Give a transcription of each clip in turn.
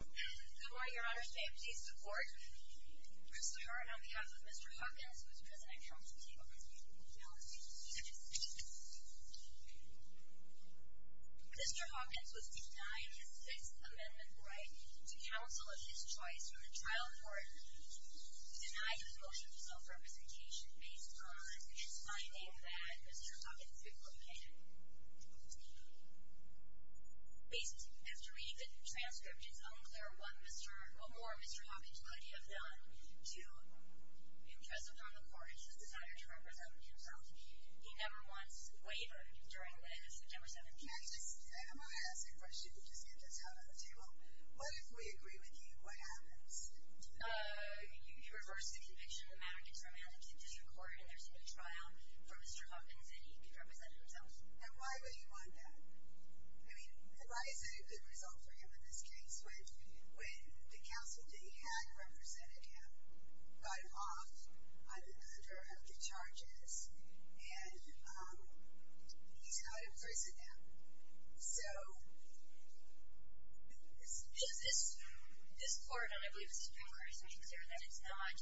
Good morning, your honors, may I please support Mr. Horne on behalf of Mr. Hawkins, who is presenting from the Table of Appeals in the United States. Mr. Hawkins was denied his Sixth Amendment right to counsel of his choice for the trial court, denied his motion for self-representation based on his finding that Mr. Hawkins' description is unclear, what more Mr. Hawkins could he have done to impress upon the court his desire to represent himself? He never once wavered during the September 17th trial. May I just ask a question to get this out on the table? What if we agree with you, what happens? You reverse the conviction, the matter gets remanded to the district court, and there's a new trial for Mr. Hawkins, and he can represent himself. And why would he want that? I mean, why is it a good result for him in this case, when the counsel that he had represented him got him off under the charges, and he's not in prison now? So, is this court, and I believe this is a good question, to make sure that it's not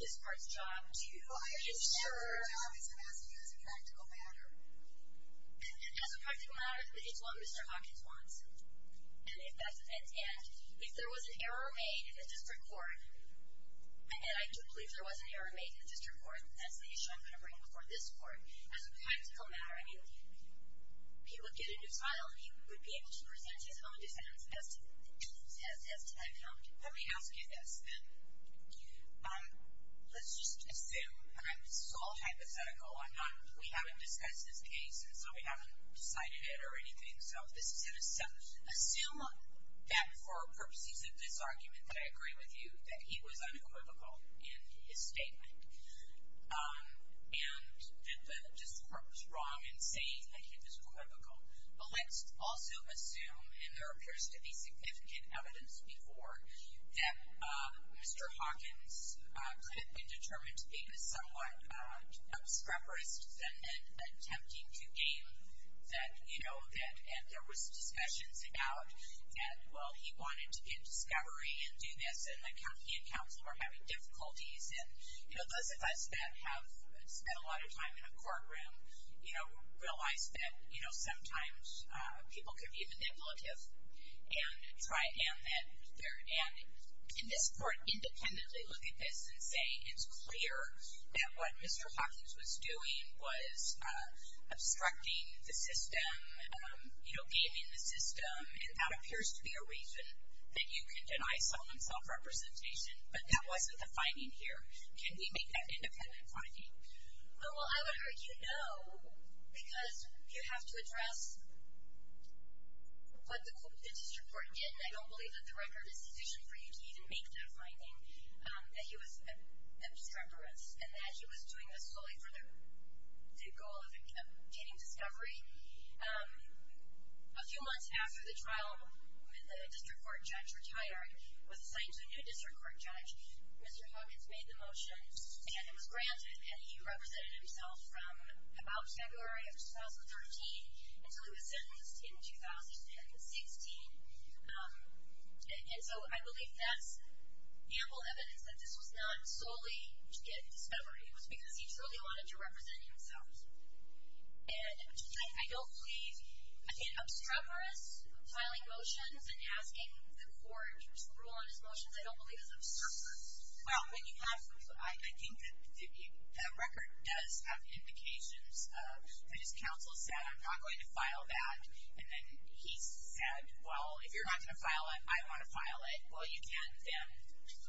this court's job to ensure that Mr. Hawkins' mask is a practical matter? It is a practical matter, but it's what Mr. Hawkins wants, and if there was an error made in the district court, and I do believe there was an error made in the district court, that's the issue I'm going to bring before this court, as a practical matter, I mean, he would get a new trial, and he would be able to present his own defense as to that count. Let me ask you this then, let's just assume, and I'm sole hypothetical, we haven't discussed this case, and so we haven't decided it or anything, so assume that for purposes of this argument that I agree with you, that he was unequivocal in his statement, and that the district court was wrong in saying that he was unequivocal, but let's also assume, and there appears to be significant evidence before, that Mr. Hawkins could have been determined to be somewhat obscurperous in attempting to aim that, you know, and there was discussions about that, well, he wanted to get discovery and do this, and he and counsel were having difficulties, and, you know, those of us that have spent a lot of time in a courtroom, you know, realize that, you know, sometimes people can be manipulative, and try and, and in this case, it's clear that what Mr. Hawkins was doing was obstructing the system, you know, gaming the system, and that appears to be a reason that you can deny someone self-representation, but that wasn't the finding here. Can we make that independent finding? Oh, well, I would argue no, because you have to address what the district court did, and I don't believe that the record is sufficient for you to even make that finding, that he was obscurperous, and that he was doing this solely for the goal of getting discovery. A few months after the trial, when the district court judge retired, was assigned to a new district court judge, Mr. Hawkins made the motion, and it was granted, and he represented himself from about February of 2013 until he was sentenced in 2016, and so I believe that's ample evidence that this was not solely to get discovery, it was because he truly wanted to represent himself, and I don't believe, in obscurperous filing motions, and asking the court to rule on his motions, I don't believe is obscurperous. Well, when you have, I think that the record does have indications of, his counsel said, I'm not going to file that, and then he said, well, if you're not going to file it, I want to file it, well, you can then,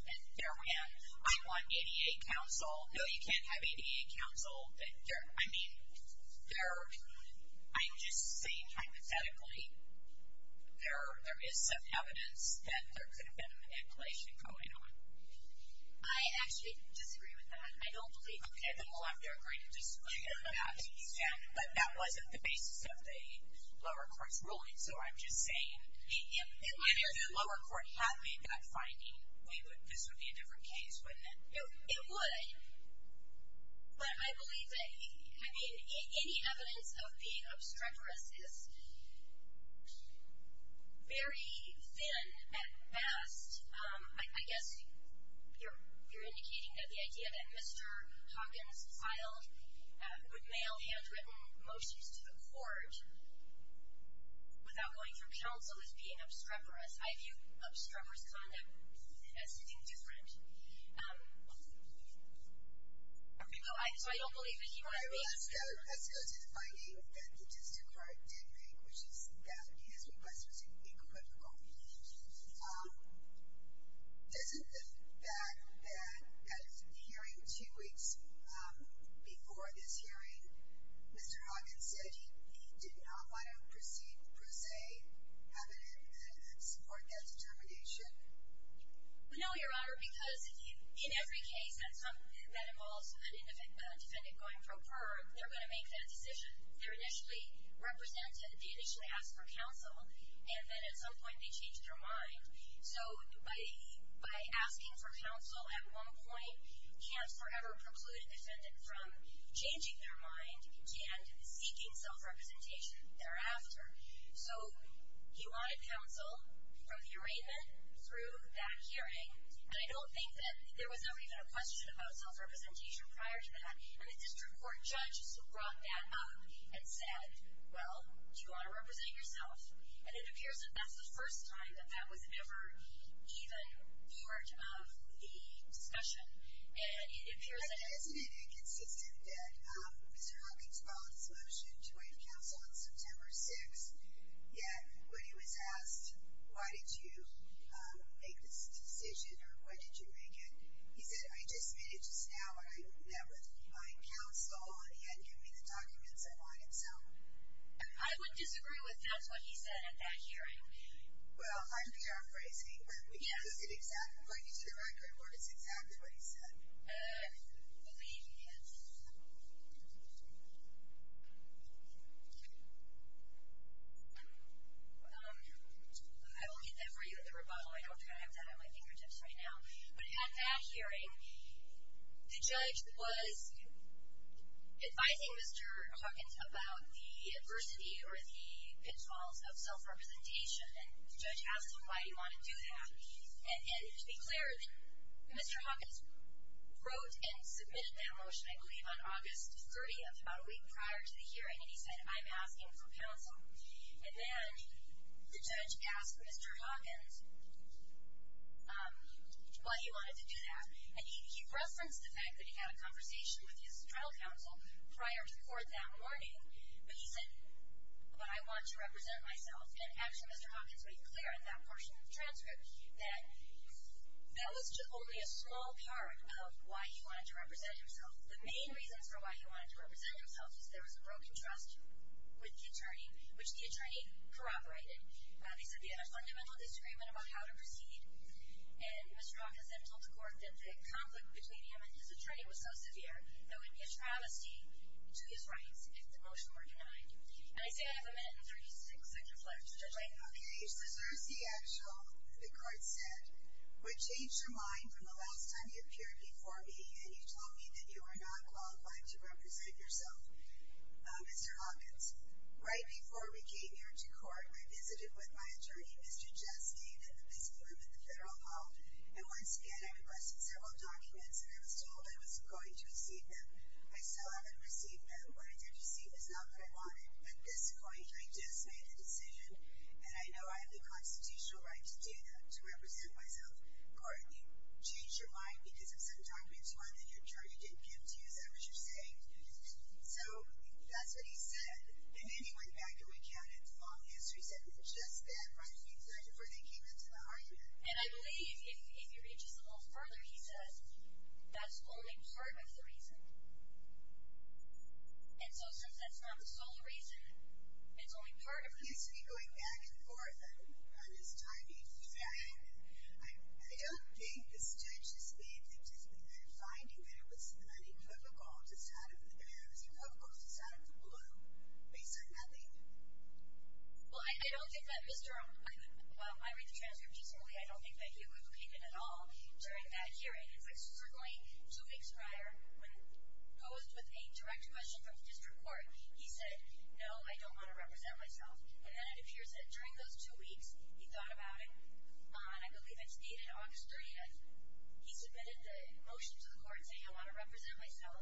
and therein, I want ADA counsel, no, you can't have ADA counsel, I mean, they're, I'm just saying, hypothetically, there is some evidence that there could have been a manipulation going on. I actually disagree with that, I don't believe that. Okay, then we'll have to agree to disagree on that, but that wasn't the basis of the lower court's ruling, so I'm just saying, if the lower court had made that finding, this would be a different case, wouldn't it? It would, but I believe that, I mean, any evidence of being obstreperous is very thin at best, I guess you're indicating that the idea that Mr. Hawkins filed, would mail handwritten motions to the court, without going through counsel, is being obstreperous. I view obstreperous conduct as something different. So, I don't believe that he would have been. Let's go to the finding that the district court did make, which is that his request was equivocal. Doesn't the fact that, at the hearing two weeks before this hearing, Mr. Hawkins said he did not want to proceed per se, evidence, or that determination? No, Your Honor, because in every case that involves a defendant going pro per, they're going to make that decision. They initially ask for counsel, and then at some point, they change their mind. So, by asking for counsel at one point, can't forever preclude a defendant from changing their mind and seeking self-representation thereafter. So, he wanted counsel from the arraignment through that hearing, and I don't think that there was ever even a question about self-representation prior to that, and the district court judges brought that up and said, well, you ought to represent yourself. And it appears that that's the first time that that was ever even part of the discussion. And it appears that- I just made a consistent fit. Mr. Hawkins filed his motion to find counsel on September 6th, yet when he was asked, why did you make this decision, or when did you make it, he said, I just made it just now, but I met with my counsel, and he hadn't given me the documents I wanted, so- I would disagree with that's what he said at that hearing. Well, I'm paraphrasing, but we can't put it exactly, put it into the record where it's exactly what he said. I believe he is. I will get that for you at the rebuttal. I don't have that on my fingertips right now. But at that hearing, the judge was advising Mr. Hawkins about the adversity or the pitfalls of self-representation, and the judge asked him why he wanted to do that. And to be clear, Mr. Hawkins wrote and submitted that motion, I believe, on August 30th, about a week prior to the hearing, and he said, I'm asking for counsel. And then, the judge asked Mr. Hawkins why he wanted to do that, and he referenced the fact that he had a conversation with his trial counsel prior to court that morning, but he said, but I want to represent myself, and actually Mr. Hawkins made clear in that portion of the transcript that that was only a small part of why he wanted to represent himself. The main reasons for why he wanted to represent himself was there was a broken trust with the attorney, which the attorney corroborated. They said they had a fundamental disagreement about how to proceed, and Mr. Hawkins then told the court that the conflict between him and his attorney was so severe that it would be a travesty to his rights if the motion were denied. And I say I have a minute and 36 seconds left, Judge White. Okay, so there's the actual, the court said, which changed your mind from the last time you appeared before me and you told me that you were not qualified to represent yourself, Mr. Hawkins. Right before we came here to court, I visited with my attorney, Mr. Justine, in the busy room at the Federal Hall, and once again, I requested several documents, and I was told I was going to receive them. I still haven't received them. What I did receive is not what I wanted. At this point, I just made a decision, and I know I have the constitutional right to do that, to represent myself. Court, you changed your mind because of some documents, one, that your attorney didn't give to you, is that what you're saying? So, that's what he said, and then he went back and recounted all the answers he said and then just that right before they came into the argument. And I believe, if he reaches a little further, he says that's only part of the reason. And so since that's not the sole reason, it's only part of the reason. He has to be going back and forth on his timing. Yeah. I don't think this judge just made the decision that finding that it was unequivocal just out of the blue, based on nothing. Well, I don't think that Mr. O'Connor, while I read the transcript decently, I don't think that he equivocated at all during that hearing. In fact, certainly two weeks prior, when posed with a direct question from the district court, he said, no, I don't want to represent myself. And then it appears that during those two weeks, he thought about it, and I believe it's dated August 30th. He submitted the motion to the court saying, I want to represent myself.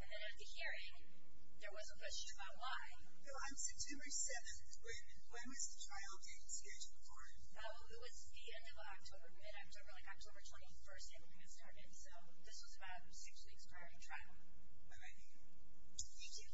And then at the hearing, there was a question about why. No, on September 7th, when was the trial getting scheduled for? No, it was the end of October. Mid-October, like October 21st, it had started. So this was about six weeks prior to the trial. All right. Thank you.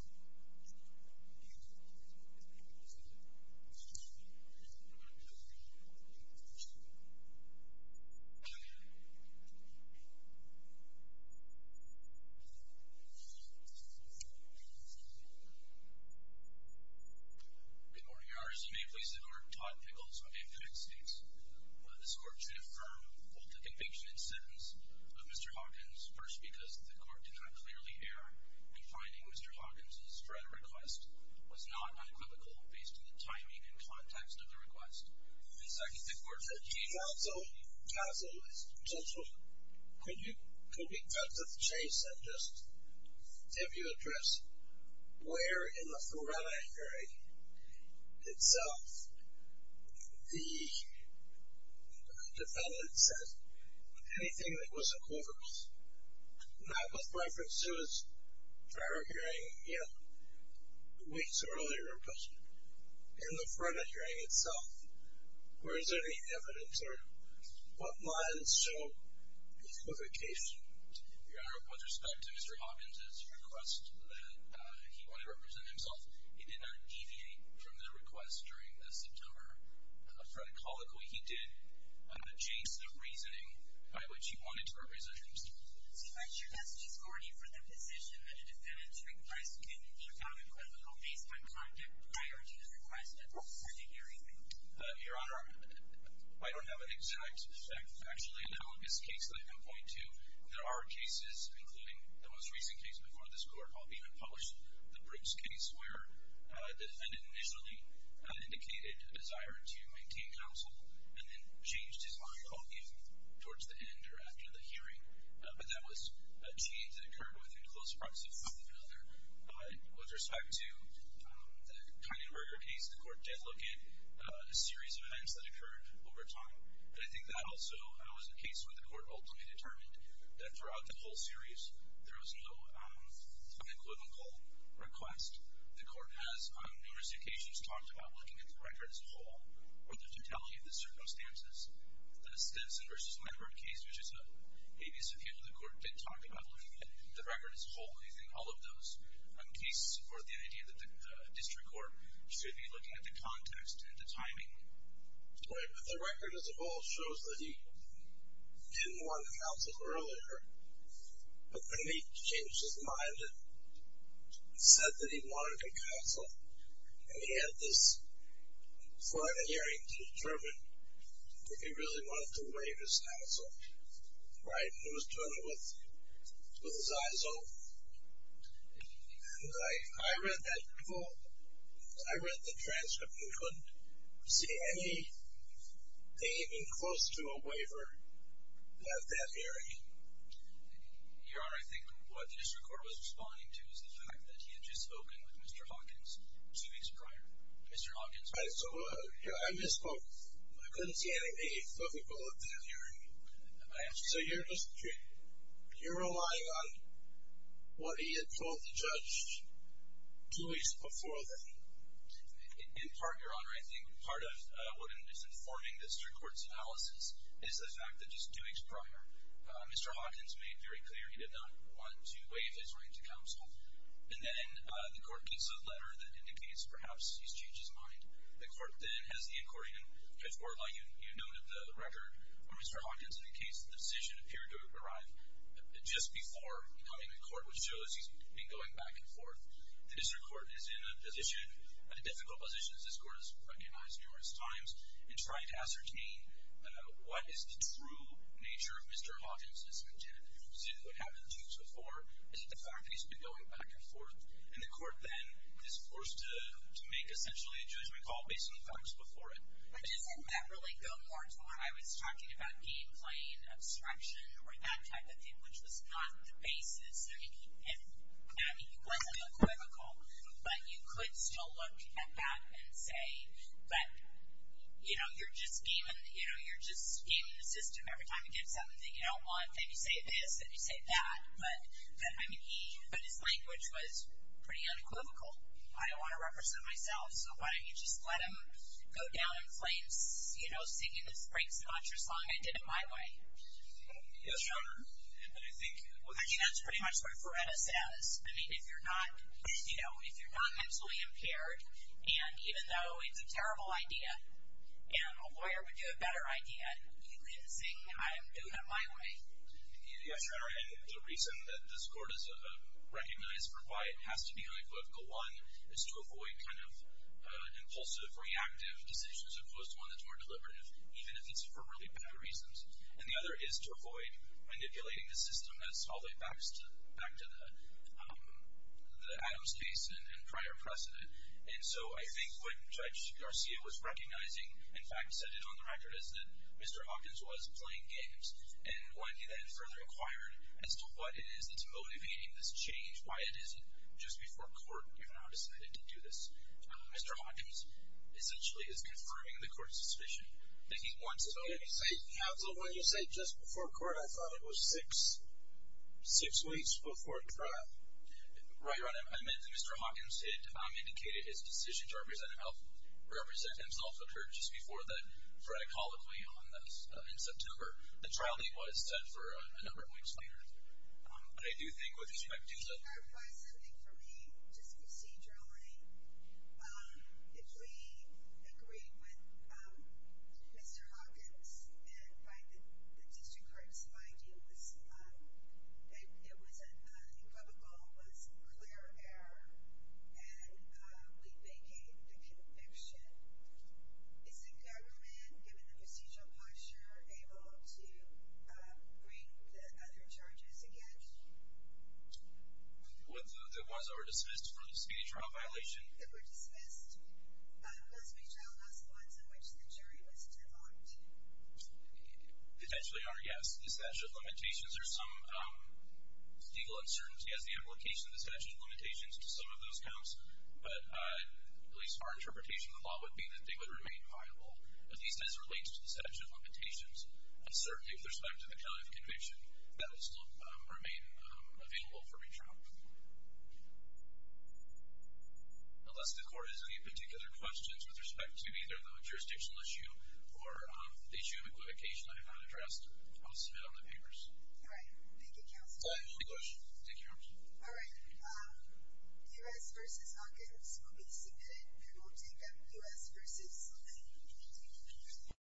Good morning, Your Honor. Your name, please. The court, Todd Pickles. I'm from the United States. This court should affirm both the conviction and sentence of Mr. Hawkins. First, because the court did not clearly err in finding Mr. Hawkins' threat request was not unequivocal based on the timing and context of the request. And second, the court said he- Counsel. Counsel. Counsel, could we cut to the chase and just give you address where in the front of the hearing itself the defendant said anything that wasn't over, not with reference to his prior hearing weeks earlier, but in the front of the hearing itself. Where is there any evidence or what lines show the equivocation? Your Honor, with respect to Mr. Hawkins' request that he wanted to represent himself, he did not deviate from the request during the September fraticalical. He did, on the chase, a reasoning by which he wanted to represent himself. See, but your message is corny for the position that a defendant's request can be found equivocal based on context prior to his request at the front of the hearing. Your Honor, I don't have an exact, factually analogous case that I can point to. There are cases, including the most recent case before this court, I'll even publish the Brooks case, where the defendant initially indicated a desire to maintain counsel and then changed his mind both towards the end or after the hearing. But that was a change that occurred within close proximity of one another. With respect to the Kynan Burger case, the court did look at a series of events that occurred over time. But I think that also was a case where the court ultimately determined that throughout the whole series, there was no unequivocal request. The court has, on numerous occasions, talked about looking at the record as a whole or the totality of the circumstances. The Stinson v. Medford case, which is an habeas appeal, the court did talk about looking at the record as a whole, using all of those cases to support the idea that the district court should be looking at the context and the timing. Right, but the record as a whole shows that he didn't want counsel earlier, but then he changed his mind and said that he wanted to counsel. And he had this front of the hearing to determine if he really wanted to remain as counsel. Right, and it was done with his eyes open. And I read that transcript and couldn't see anything close to a waiver at that hearing. Your Honor, I think what the district court was responding to is the fact that he had just spoken with Mr. Hawkins two weeks prior. Mr. Hawkins. Right, so I misspoke. I couldn't see anything. So you're just, you're relying on what he had told the judge two weeks before then. In part, Your Honor, I think part of what I'm misinforming the district court's analysis is the fact that just two weeks prior, Mr. Hawkins made very clear he did not want to waive his right to counsel. And then the court gives a letter that indicates perhaps he's changed his mind. The court then has the accordion. Judge Borlaug, you noted the record for Mr. Hawkins in the case. The decision appeared to arrive just before coming to court, which shows he's been going back and forth. The district court is in a position, at a difficult position, as this court has recognized numerous times, in trying to ascertain what is the true nature of Mr. Hawkins' intent. See, what happens two to four is the fact that he's been going back and forth. And the court then is forced to make essentially a judgment call based on the facts before it. But doesn't that really go more to where I was talking about game playing, obstruction, or that type of thing, which was not the basis? I mean, if, I mean, he wasn't a clinical, but you could still look at that and say, but, you know, you're just scheming, you know, you're just scheming the system every time you get something you don't want. Then you say this, then you say that. But, I mean, he, but his language was pretty unequivocal. I don't want to represent myself, so why don't you just let him go down in flames, you know, singing the Frank Sinatra song, I did it my way. Yes, Your Honor. And then I think, well, I think that's pretty much what Freireta says. I mean, if you're not, you know, if you're not mentally impaired, and even though it's a terrible idea, and a lawyer would do a better idea, you leave the thing, I'm doing it my way. Yes, Your Honor, and the reason that this Court has recognized for why it has to be unequivocal, one, is to avoid kind of impulsive, reactive decisions opposed to one that's more deliberative, even if it's for really bad reasons. And the other is to avoid manipulating the system as all the way back to the Adams case and prior precedent. And so I think what Judge Garcia was recognizing, in fact, said it on the record, is that Mr. Hawkins was playing games. And when he then further inquired as to what it is that's motivating this change, why it isn't, just before court, you're not expected to do this. Mr. Hawkins essentially is confirming the court's suspicion that he wants to vote. So when you say just before court, I thought it was six weeks before trial. Right, Your Honor, I meant that Mr. Hawkins had indicated his decision to represent himself occurred just before the frat colloquy in September. The trial date was set for a number of weeks later. But I do think with respect to the- Can you clarify something for me, just procedurally? If we agree with Mr. Hawkins and find that the district court's idea was unequivocal, was clear of error, and we vacate the conviction, is the government, given the procedural posture, able to bring the other charges again? What, the ones that were dismissed from the speedy trial violation? That were dismissed. Must we tell us the ones in which the jury was divined? Essentially, Your Honor, yes. The statute of limitations, there's some legal uncertainty as the application of the statute of limitations to some of those counts. But at least our interpretation of the law would be that they would remain viable, at least as it relates to the statute of limitations. And certainly with respect to the county of conviction, that will still remain available for retrial. Unless the court has any particular questions with respect to either the jurisdictional issue or the issue of equivocation I have not addressed, I will submit on the papers. All right. Thank you, Counselor. All right. Negotiate. Thank you, Your Honor. All right. U.S. versus Hawkins will be submitted. We will take them. U.S. versus Slim. Thank you.